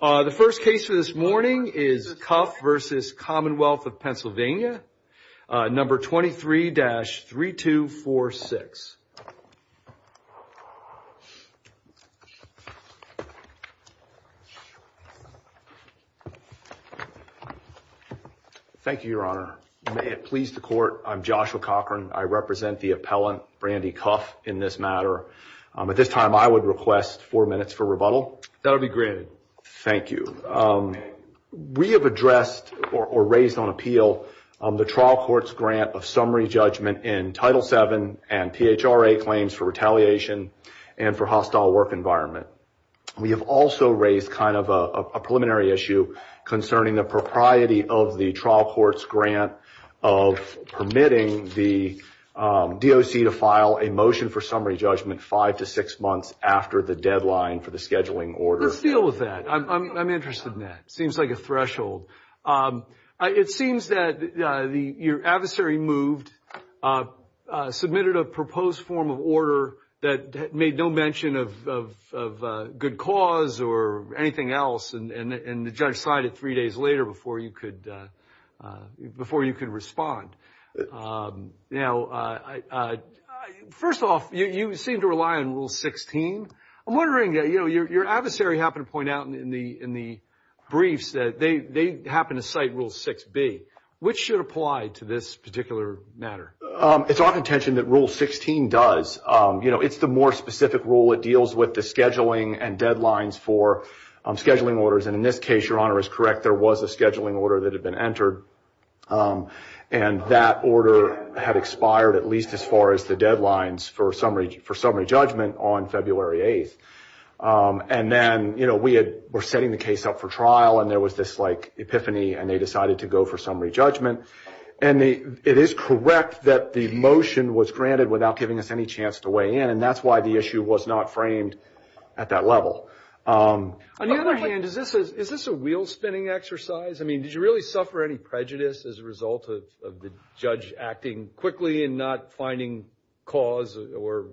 The first case for this morning is Cuff v. Commonwealth of Pennsylvania, number 23-3246. Thank you, your honor. May it please the court, I'm Joshua Cochran. I represent the appellant Brandy Cuff in this matter. At this time, I would request four minutes for rebuttal. That will be granted. Thank you. We have addressed or raised on appeal the trial court's grant of summary judgment in Title VII and PHRA claims for retaliation and for hostile work environment. We have also raised kind of a preliminary issue concerning the propriety of the trial court's grant of permitting the DOC to file a motion for summary judgment five to six after the deadline for the scheduling order. Let's deal with that. I'm interested in that. It seems like a threshold. It seems that your adversary moved, submitted a proposed form of order that made no mention of good cause or anything else, and the judge cited three days before you could respond. First off, you seem to rely on Rule 16. I'm wondering, your adversary happened to point out in the briefs that they happen to cite Rule 6b. Which should apply to this particular matter? It's our intention that Rule 16 does. It's the more specific rule. It deals with the scheduling and deadlines for scheduling orders. In this case, your honor, is correct. There was a scheduling order that had been entered, and that order had expired at least as far as the deadlines for summary judgment on February 8th. Then we were setting the case up for trial, and there was this epiphany, and they decided to go for summary judgment. It is correct that the motion was granted without giving us any chance to weigh in, and that's why the issue was not framed at that level. On the other hand, is this a wheel-spinning exercise? I mean, did you really suffer any prejudice as a result of the judge acting quickly and not finding cause or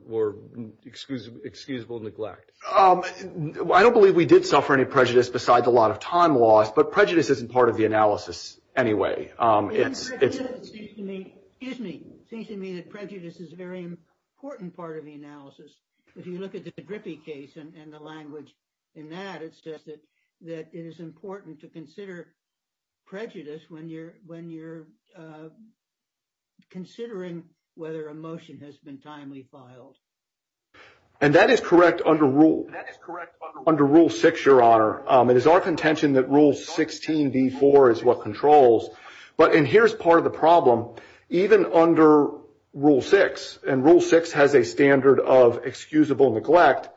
excusable neglect? I don't believe we did suffer any prejudice besides a lot of time loss, but prejudice isn't part of the analysis anyway. It seems to me that prejudice is a very important part of the analysis. If you look at the Drippy case and the language in that, it says that it is important to consider prejudice when you're considering whether a motion has been timely filed. That is correct under Rule 6, your honor. It is our contention that Rule 16b4 is what And here's part of the problem. Even under Rule 6, and Rule 6 has a standard of excusable neglect,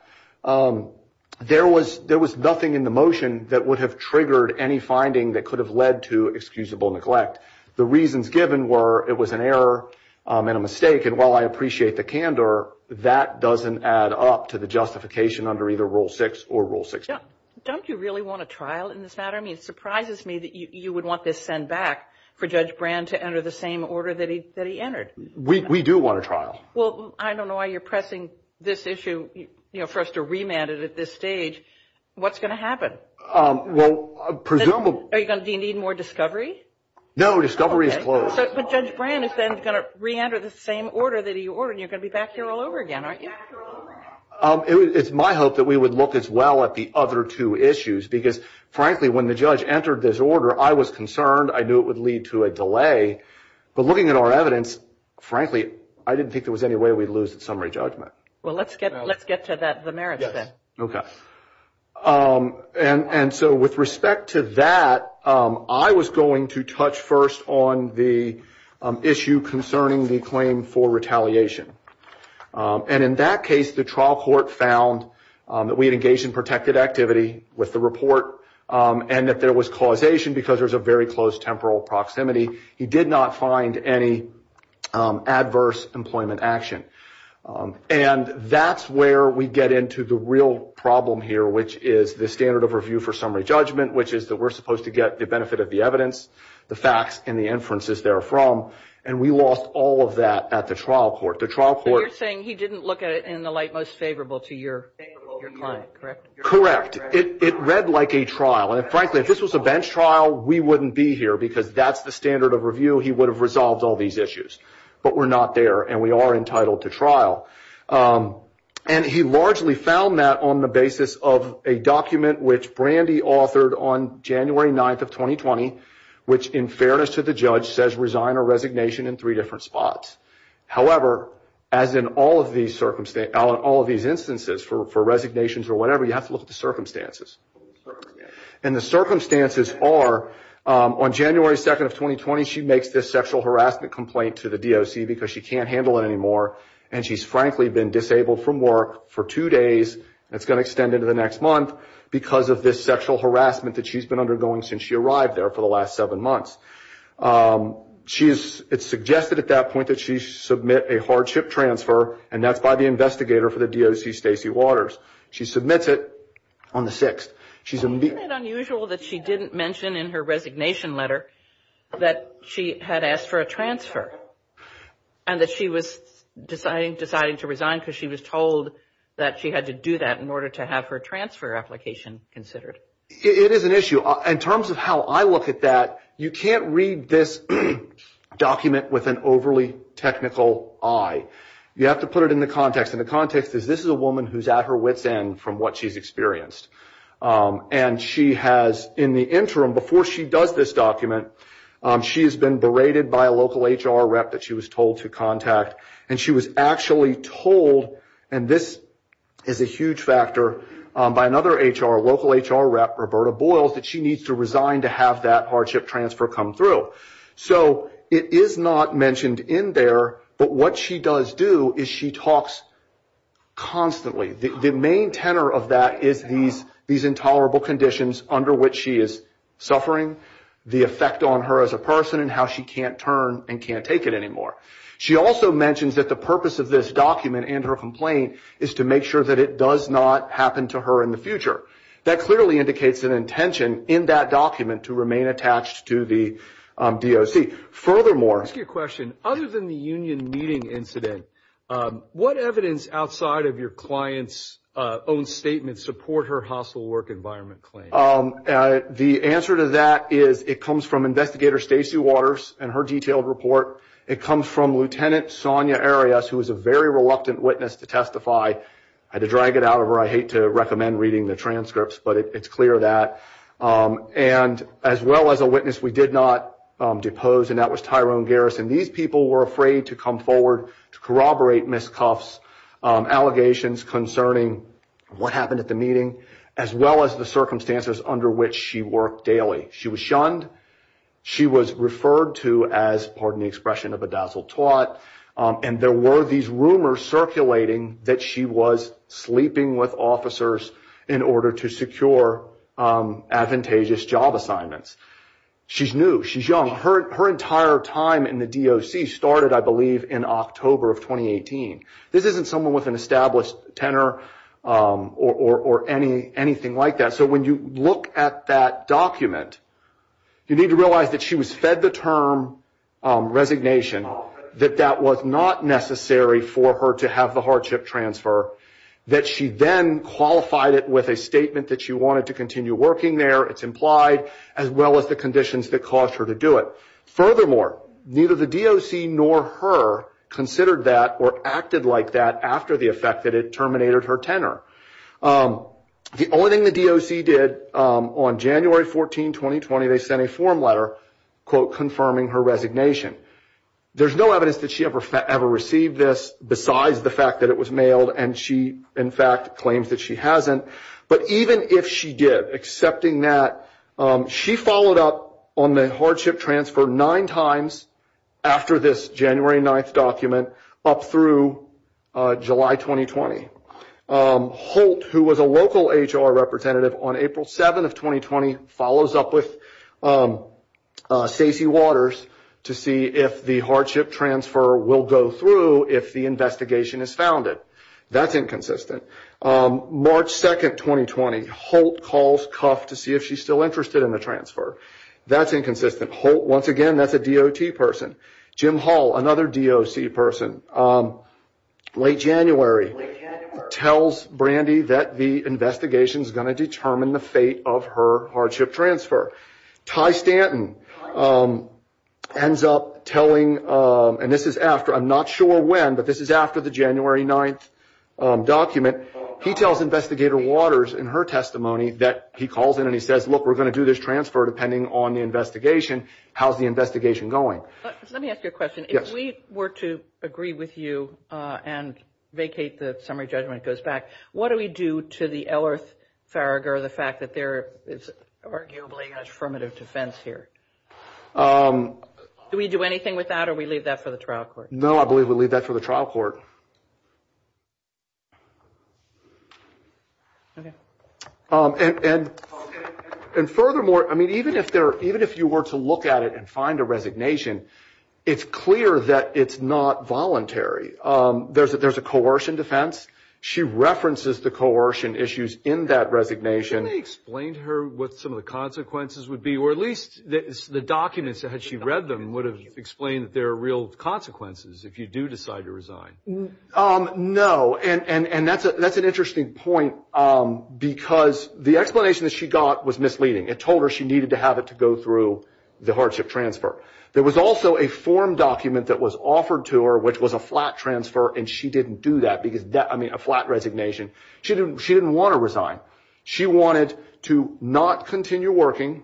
there was nothing in the motion that would have triggered any finding that could have led to excusable neglect. The reasons given were it was an error and a mistake, and while I appreciate the candor, that doesn't add up to the justification under either Rule 6 or Rule 16. Don't you really want a trial in this matter? I mean, it surprises me that you would want this sent back for Judge Brand to enter the same order that he entered. We do want a trial. Well, I don't know why you're pressing this issue for us to remand it at this stage. What's going to happen? Do you need more discovery? No, discovery is closed. But Judge Brand is then going to re-enter the same order that he ordered, and you're going to be back here all over again, aren't you? It's my hope that we would look as well at the other two issues, because frankly, when the judge entered this order, I was concerned. I knew it would lead to a delay. But looking at our evidence, frankly, I didn't think there was any way we'd lose the summary judgment. Well, let's get to the merits then. Okay. And so with respect to that, I was going to touch first on the issue concerning the claim for retaliation. And in that case, the trial court found that we had engaged in protected activity with the report, and that there was causation because there's a very close temporal proximity. He did not find any adverse employment action. And that's where we get into the real problem here, which is the standard of review for summary judgment, which is that we're supposed to get the benefit of the evidence, the facts, and the inferences therefrom. And we lost all of that at the trial court. You're saying he didn't look at it in the light most favorable to your client, correct? Correct. It read like a trial. And frankly, if this was a bench trial, we wouldn't be here, because that's the standard of review. He would have resolved all these issues. But we're not there, and we are entitled to trial. And he largely found that on the basis of a document which Brandy authored on January 9th 2020, which in fairness to the judge, says resign or resignation in three different spots. However, as in all of these instances for resignations or whatever, you have to look at the circumstances. And the circumstances are, on January 2nd of 2020, she makes this sexual harassment complaint to the DOC because she can't handle it anymore. And she's frankly been disabled from work for two days, and it's going to extend into the next month because of this sexual harassment that she's been undergoing since she arrived there for the last seven months. She is, it's suggested at that point that she submit a hardship transfer, and that's by the investigator for the DOC, Stacey Waters. She submits it on the 6th. Isn't it unusual that she didn't mention in her resignation letter that she had asked for a transfer and that she was deciding to resign because she was told that she had to do that to have her transfer application considered? It is an issue. In terms of how I look at that, you can't read this document with an overly technical eye. You have to put it in the context. And the context is this is a woman who's at her wits end from what she's experienced. And she has, in the interim, before she does this document, she has been berated by a local HR rep that she was told to contact. And she was actually told, and this is a huge factor by another HR, local HR rep, Roberta Boyles, that she needs to resign to have that hardship transfer come through. So it is not mentioned in there, but what she does do is she talks constantly. The main tenor of that is these intolerable conditions under which she is suffering, the effect on her as a person, and how she can't turn and can't take it anymore. She also mentions that the purpose of this document and her complaint is to make sure that it does not happen to her in the future. That clearly indicates an intention in that document to remain attached to the DOC. Furthermore... I'll ask you a question. Other than the union meeting incident, what evidence outside of your client's own statement support her hostile work environment claim? The answer to that is it comes from Investigator Stacey Waters and her detailed report. It comes from Lieutenant Sonia Arias, who is a very reluctant witness to testify. I had to drag it out of her. I hate to recommend reading the transcripts, but it's clear that. And as well as a witness we did not depose, and that was Tyrone Garrison. These people were afraid to come forward to corroborate Ms. Cuff's allegations concerning what happened at the as well as the circumstances under which she worked daily. She was shunned. She was referred to as, pardon the expression, a bedazzled twat. And there were these rumors circulating that she was sleeping with officers in order to secure advantageous job assignments. She's new. She's young. Her entire time in the DOC started, I believe, in October of 2018. This isn't someone with an established tenor or anything like that. So when you look at that document, you need to realize that she was fed the term resignation, that that was not necessary for her to have the hardship transfer, that she then qualified it with a statement that she wanted to continue working there, it's implied, as well as the conditions that caused her to do it. Furthermore, neither the DOC nor her considered that or acted like that after the effect that it terminated her tenor. The only thing the DOC did on January 14, 2020, they sent a form letter, quote, confirming her resignation. There's no evidence that she ever received this besides the fact that it was mailed and she, in fact, claims that she hasn't. But even if she did, accepting that, she followed up on the January 9th document up through July 2020. Holt, who was a local HR representative on April 7 of 2020, follows up with Stacey Waters to see if the hardship transfer will go through if the investigation is founded. That's inconsistent. March 2, 2020, Holt calls Cuff to see if she's still interested in the transfer. That's inconsistent. Holt, once again, that's a DOT person. Jim Hall, another DOC person, late January, tells Brandy that the investigation is going to determine the fate of her hardship transfer. Ty Stanton ends up telling, and this is after, I'm not sure when, but this is after the January 9th document. He tells Investigator Waters in her testimony that he calls in and he says, look, we're going to do this transfer depending on the investigation. How's the investigation going? Let me ask you a question. If we were to agree with you and vacate the summary judgment and go back, what do we do to the Ehlers-Faragher, the fact that there is arguably an affirmative defense here? Do we do anything with that or we leave that for the trial court? No, I believe we leave that for the trial court. Okay. And furthermore, I mean, even if you were to look at it and find a resignation, it's clear that it's not voluntary. There's a coercion defense. She references the coercion issues in that resignation. Can you explain to her what some of the consequences would be, or at least the documents, had she read them, would have explained that there are real consequences if you do decide to resign? No, and that's an interesting point because the explanation that she got was misleading. It told her she needed to have it to go through the hardship transfer. There was also a form document that was offered to her, which was a flat transfer, and she didn't do that because that, I mean, a flat resignation. She didn't want to resign. She wanted to not continue working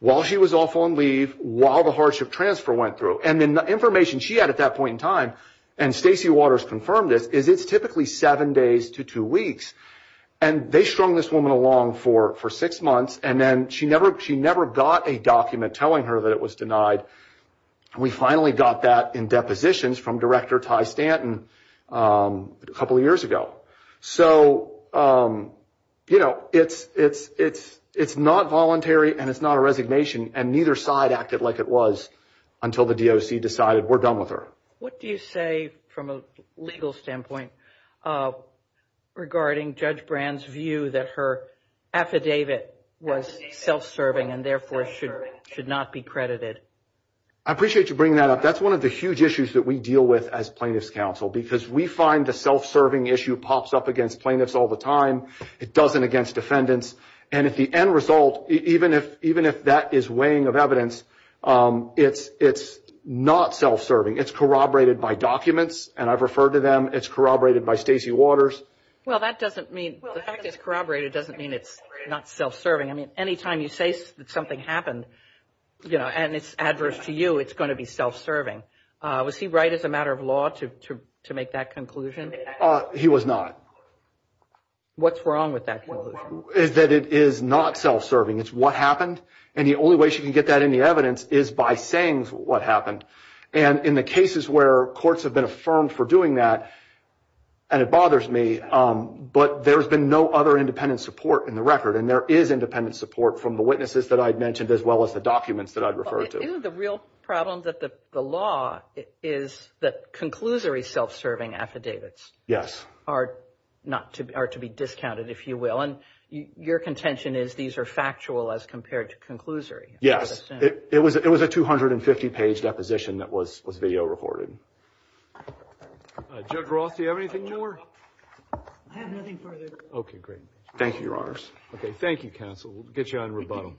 while she was off on leave, while the hardship transfer went through. And then the information she had at that point in time, and Stacey Waters confirmed this, is it's typically seven days to two weeks. And they strung this woman along for six months, and then she never got a document telling her that it was denied. We finally got that in depositions from Director Ty Stanton a couple of years ago. So, you know, it's not voluntary, and it's not a resignation, and neither side acted like it was until the DOC decided we're done with her. What do you say, from a legal standpoint, regarding Judge Brand's view that her affidavit was self-serving and therefore should not be credited? I appreciate you bringing that up. That's one of the huge issues that we deal with as Plaintiffs' Counsel, because we find the self-serving issue pops up against plaintiffs all the time. It doesn't against defendants, and if the end result, even if that is weighing of evidence, it's not self-serving. It's corroborated by documents, and I've referred to them. It's corroborated by Stacey Waters. Well, that doesn't mean, the fact it's corroborated doesn't mean it's not self-serving. I mean, any time you say that something happened, you know, and it's adverse to you, it's going to be self-serving. Was he right as a matter of law to make that conclusion? He was not. What's wrong with that conclusion? Is that it is not self-serving. It's what happened, and the only way she can get that in the evidence is by saying what happened, and in the cases where courts have been affirmed for doing that, and it bothers me, but there's been no other independent support in the record, and there is independent support from the witnesses that I'd mentioned as well as the documents that I'd referred to. Isn't the real problem that the law is that conclusory self-serving affidavits are to be discounted, if you will, and your contention is these are factual as compared to conclusory. Yes, it was a 250-page deposition that was video recorded. Judge Roth, do you have anything more? I have nothing further. Okay, great. Thank you, Your Honors. Okay, thank you, counsel. We'll get you on rebuttal.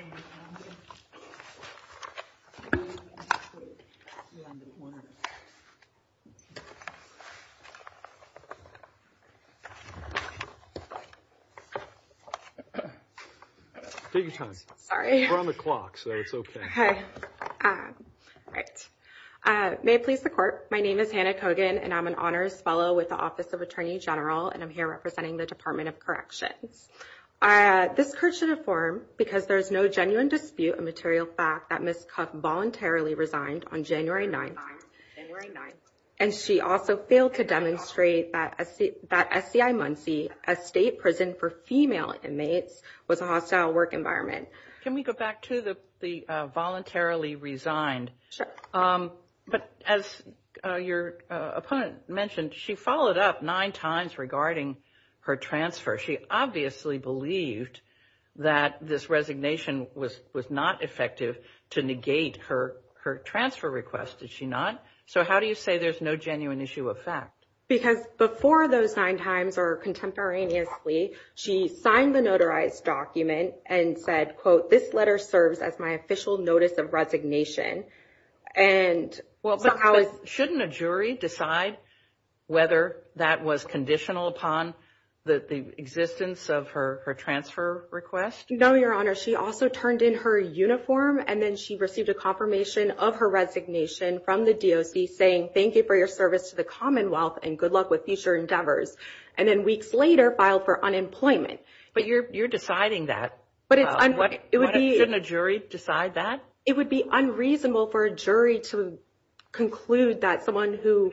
Okay. Take your time. Sorry. We're on the clock, so it's okay. Hi. May it please the Court, my name is Hannah Cogan, and I'm an Honors Fellow with the Office of Attorney General, and I'm here representing the Department of Corrections. This court should affirm because there is no genuine dispute of material fact that Ms. Cuff voluntarily resigned on January 9th, and she also failed to demonstrate that SCI Muncie, a state prison for female inmates, was a hostile work environment. Can we go back to the voluntarily resigned? Sure. But as your opponent mentioned, she followed up nine times regarding her transfer. She obviously believed that this resignation was not effective to negate her transfer request. Did she not? So how do you say there's no genuine issue of fact? Because before those nine times or contemporaneously, she signed the notarized document and said, quote, this letter serves as my official notice of resignation. And well, shouldn't a jury decide whether that was conditional upon the existence of her transfer request? No, Your Honor. She also turned in her uniform, and then she received a confirmation of her resignation from the DOC saying, thank you for your service to the Commonwealth and good luck with future endeavors. And then weeks later, filed for unemployment. But you're deciding that. Shouldn't a jury decide that? It would be unreasonable for a jury to conclude that someone who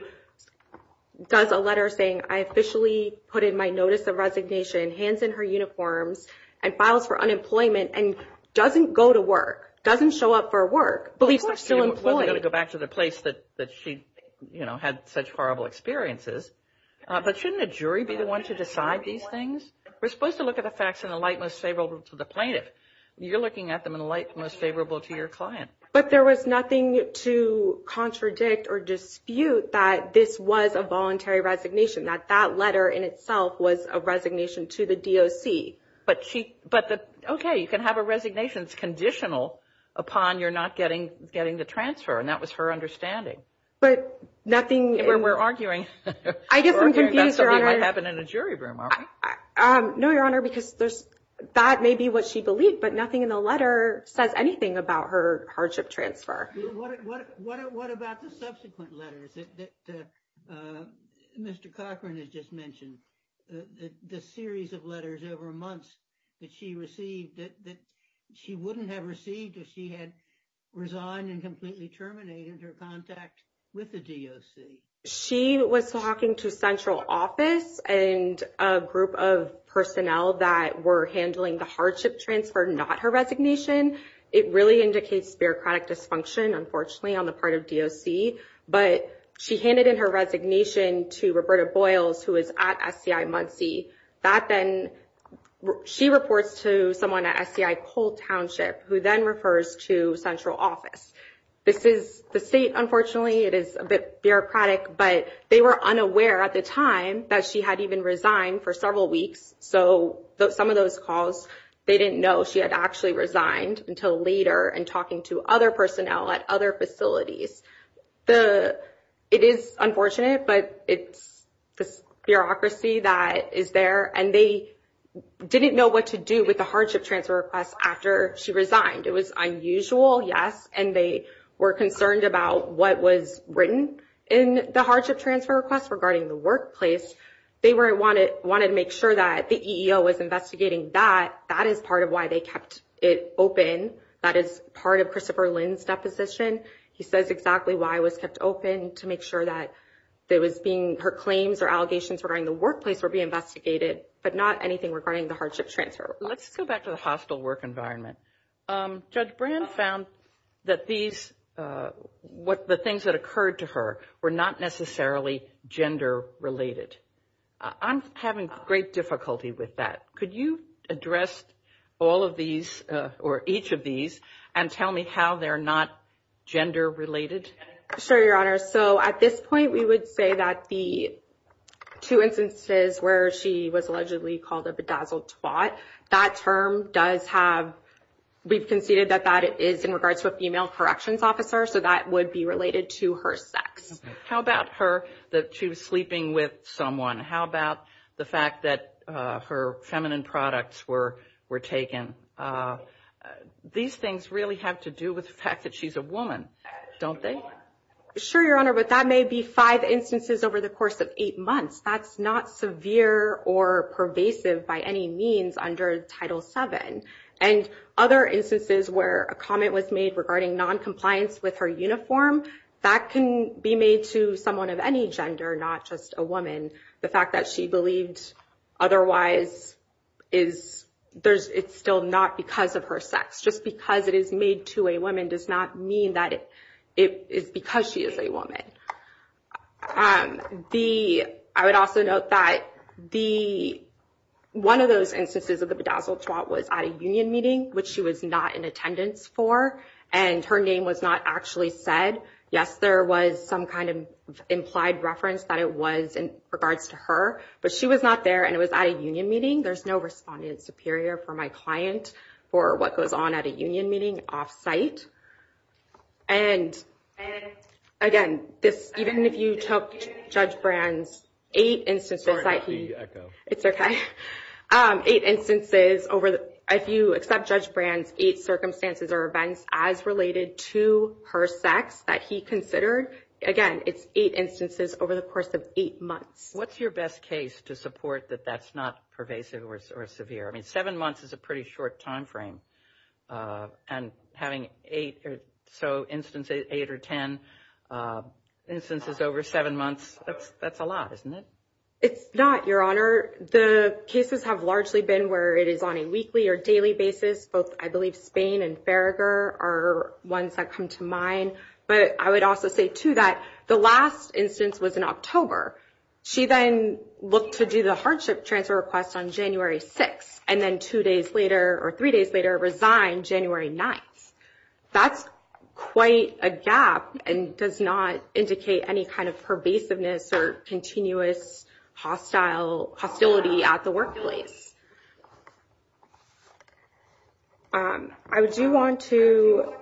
does a letter saying, I officially put in my notice of resignation, hands in her uniforms, and files for unemployment, and doesn't go to work, doesn't show up for work, believes she's still employed. Wasn't going to go back to the place that she had such horrible experiences. But shouldn't a jury be the one to decide these things? We're supposed to look at the facts in the light most favorable to the plaintiff. You're looking at them in the light most favorable to your client. But there was nothing to contradict or dispute that this was a voluntary resignation, that that letter in itself was a resignation to the DOC. But she, but the, okay, you can have a resignation, it's conditional upon your not getting, getting the transfer. And that was her understanding. But nothing. We're arguing. I guess I'm confused, Your Honor. It might happen in a jury room, aren't we? No, Your Honor, because there's, that may be what she believed, but nothing in the letter says anything about her hardship transfer. What about the subsequent letters that Mr. Cochran has just mentioned? The series of letters over months that she received that she wouldn't have received if she had resigned and completely terminated her contact with the DOC? She was talking to central office and a group of personnel that were handling the hardship transfer, not her resignation. It really indicates bureaucratic dysfunction, unfortunately, on the part of DOC. But she handed in her resignation to Roberta Boyles, who is at SCI Muncie. That then, she reports to someone at SCI Cole Township, who then refers to central office. This is the state, unfortunately, it is a bit bureaucratic, but they were unaware at the time that she had even resigned for several weeks. So some of those calls, they didn't know she had actually resigned until later and talking to other personnel at other facilities. It is unfortunate, but it's this bureaucracy that is there and they didn't know what to do with the hardship transfer request after she resigned. It was unusual, yes, and they were concerned about what was written in the hardship transfer request regarding the workplace. They wanted to make sure that the EEO was investigating that. That is part of why they kept it open. That is part of Christopher Lynn's deposition. He says exactly why it was kept open, to make sure that her claims or allegations regarding the workplace were being investigated, but not anything regarding the hardship transfer request. Let's go back to the hostile work environment. Judge Brand found that the things that occurred to her were not necessarily gender related. I'm having great difficulty with that. Could you address all of these or each of these and tell me how they're not gender related? Sure, Your Honor. So at this point, we would say that the two instances where she was allegedly called a bedazzled twat, that term does have, we've conceded that that is in regards to a How about her, that she was sleeping with someone? How about the fact that her feminine products were taken? These things really have to do with the fact that she's a woman, don't they? Sure, Your Honor, but that may be five instances over the course of eight months. That's not severe or pervasive by any means under Title VII. And other instances where a comment was made regarding non-compliance with her uniform, that can be made to someone of any gender, not just a woman. The fact that she believed otherwise, it's still not because of her sex. Just because it is made to a woman does not mean that it is because she is a woman. I would also note that one of those instances of the bedazzled twat was at a union meeting, which she was not in attendance for, and her name was not actually said. Yes, there was some kind of implied reference that it was in regards to her, but she was not there and it was at a union meeting. There's no respondent superior for my client for what goes on at a union meeting off-site. And again, even if you took Judge Brand's eight instances, if you accept Judge Brand's eight circumstances or events as related to her sex that he considered, again, it's eight instances over the course of eight months. What's your best case to support that that's not pervasive or severe? I mean, seven months is a pretty short time frame, and having eight or so instances, eight or ten instances over seven months, that's a lot, isn't it? It's not, Your Honor. The cases have largely been where it is on a weekly or daily basis. Both, I believe, Spain and Farragher are ones that come to mind. But I would also say, too, that the last instance was in She then looked to do the hardship transfer request on January 6th, and then two days later, or three days later, resigned January 9th. That's quite a gap and does not indicate any kind of pervasiveness or continuous hostility at the workplace. I do want to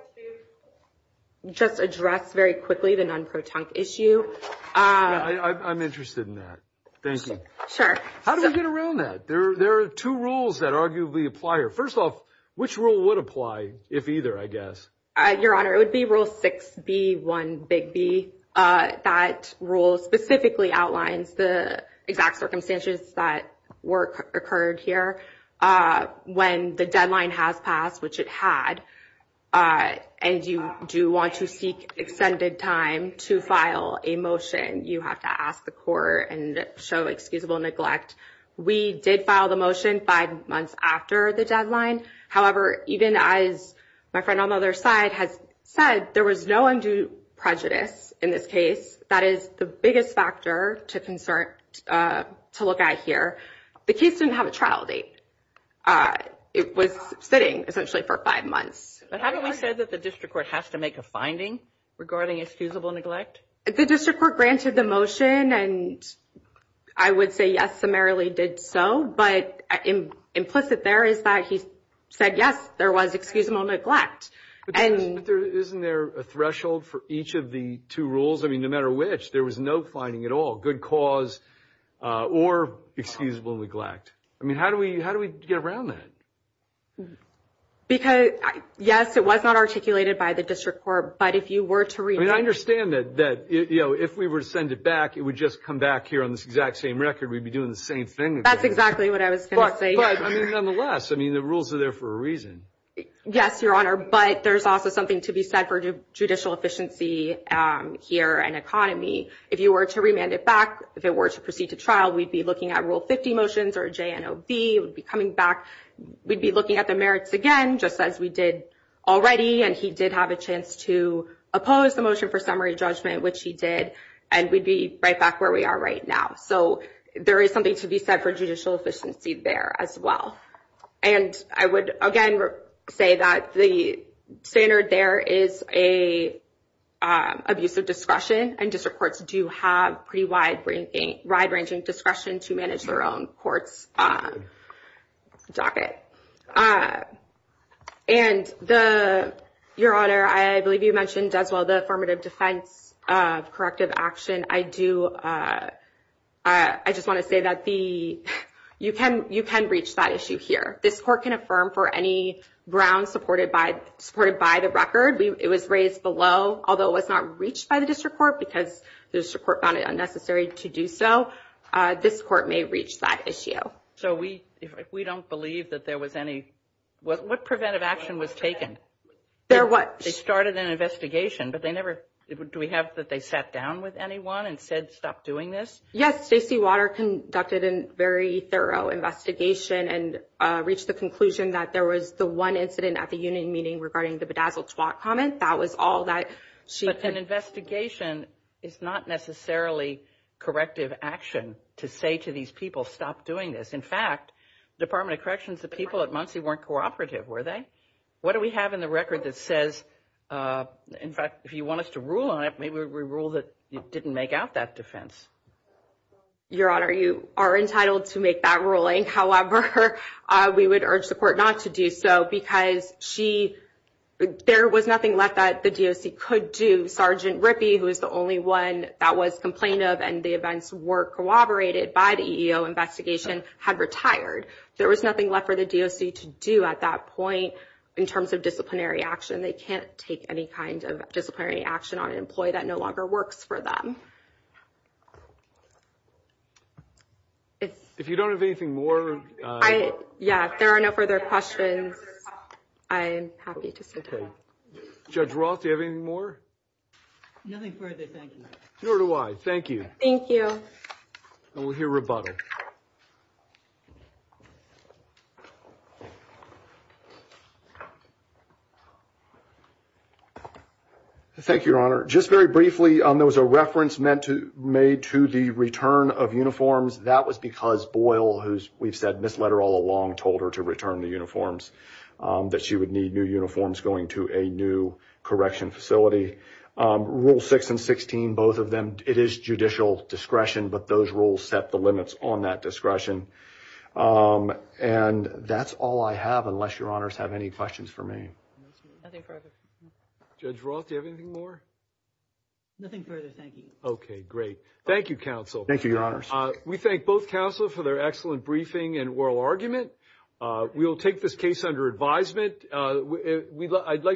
just address very quickly the issue. I'm interested in that. Thank you. Sure. How do we get around that? There are two rules that arguably apply here. First off, which rule would apply if either, I guess? Your Honor, it would be Rule 6B-1B. That rule specifically outlines the exact circumstances that work occurred here. When the deadline has passed, which it had, and you do want to seek extended time to file a motion, you have to ask the court and show excusable neglect. We did file the motion five months after the deadline. However, even as my friend on the other side has said, there was no have a trial date. It was sitting essentially for five months. But haven't we said that the district court has to make a finding regarding excusable neglect? The district court granted the motion, and I would say yes, summarily did so, but implicit there is that he said, yes, there was excusable neglect. Isn't there a threshold for each of the two rules? I mean, matter which, there was no finding at all, good cause or excusable neglect. I mean, how do we get around that? Because, yes, it was not articulated by the district court, but if you were to read it. I understand that if we were to send it back, it would just come back here on this exact same record. We'd be doing the same thing. That's exactly what I was going to say. But nonetheless, I mean, the rules are there for a reason. Yes, Your Honor, but there's also something to be said for judicial efficiency here in economy. If you were to remand it back, if it were to proceed to trial, we'd be looking at Rule 50 motions or JNOB. We'd be coming back. We'd be looking at the merits again, just as we did already. And he did have a chance to oppose the motion for summary judgment, which he did. And we'd be right back where we are right now. So there is something to be said for judicial efficiency there as well. And I would, again, say that the standard there is a abuse of discretion, and district courts do have pretty wide-ranging discretion to manage their own courts' docket. And Your Honor, I believe you mentioned as well the affirmative defense of corrective action. I just want to say that you can reach that issue here. This court can affirm for any grounds supported by the record. It was raised below, although it was not reached by the district court because the district court found it unnecessary to do so. This court may reach that issue. So we don't believe that there was any... What preventive action was taken? There was. They started an investigation, but they never... Do we have that they sat down with anyone and said, stop doing this? Yes. Stacey Water conducted a very thorough investigation and reached the conclusion that there was the one incident at the union meeting regarding the Bedazzled Squat comment. That was all that she... But an investigation is not necessarily corrective action to say to these people, stop doing this. In fact, Department of Corrections, the people at Muncie weren't cooperative, were they? What do we have in the record that says, in fact, if you want us to rule on it, maybe we rule that you didn't make out that defense. Your Honor, you are entitled to make that ruling. However, we would urge the court not to do so because there was nothing left that the DOC could do. Sergeant Rippey, who is the only one that was complained of and the events were corroborated by the EEO investigation, had retired. There was nothing left for the DOC to do at that point in terms of disciplinary action. They can't take any kind of disciplinary action on an employee that no longer works for them. If you don't have anything more... Yeah, if there are no further questions, I'm happy to sit down. Judge Roth, do you have anything more? Nothing further. Thank you. Nor do I. Thank you. Thank you. And we'll hear rebuttal. Thank you, Your Honor. Just very briefly, there was a reference made to the return of uniforms. That was because Boyle, who we've said misled her all along, told her to return the uniforms, that she would need new uniforms going to a new correction facility. Rule 6 and 16, both of them, it is judicial discretion, but those rules set the limits on that discretion. And that's all I have, unless Your Honors have any questions for me. Judge Roth, do you have anything more? Nothing further. Thank you. Okay, great. Thank you, counsel. Thank you, Your Honors. We thank both counsel for their excellent briefing and oral argument. We'll take this case under advisement. I'd like to...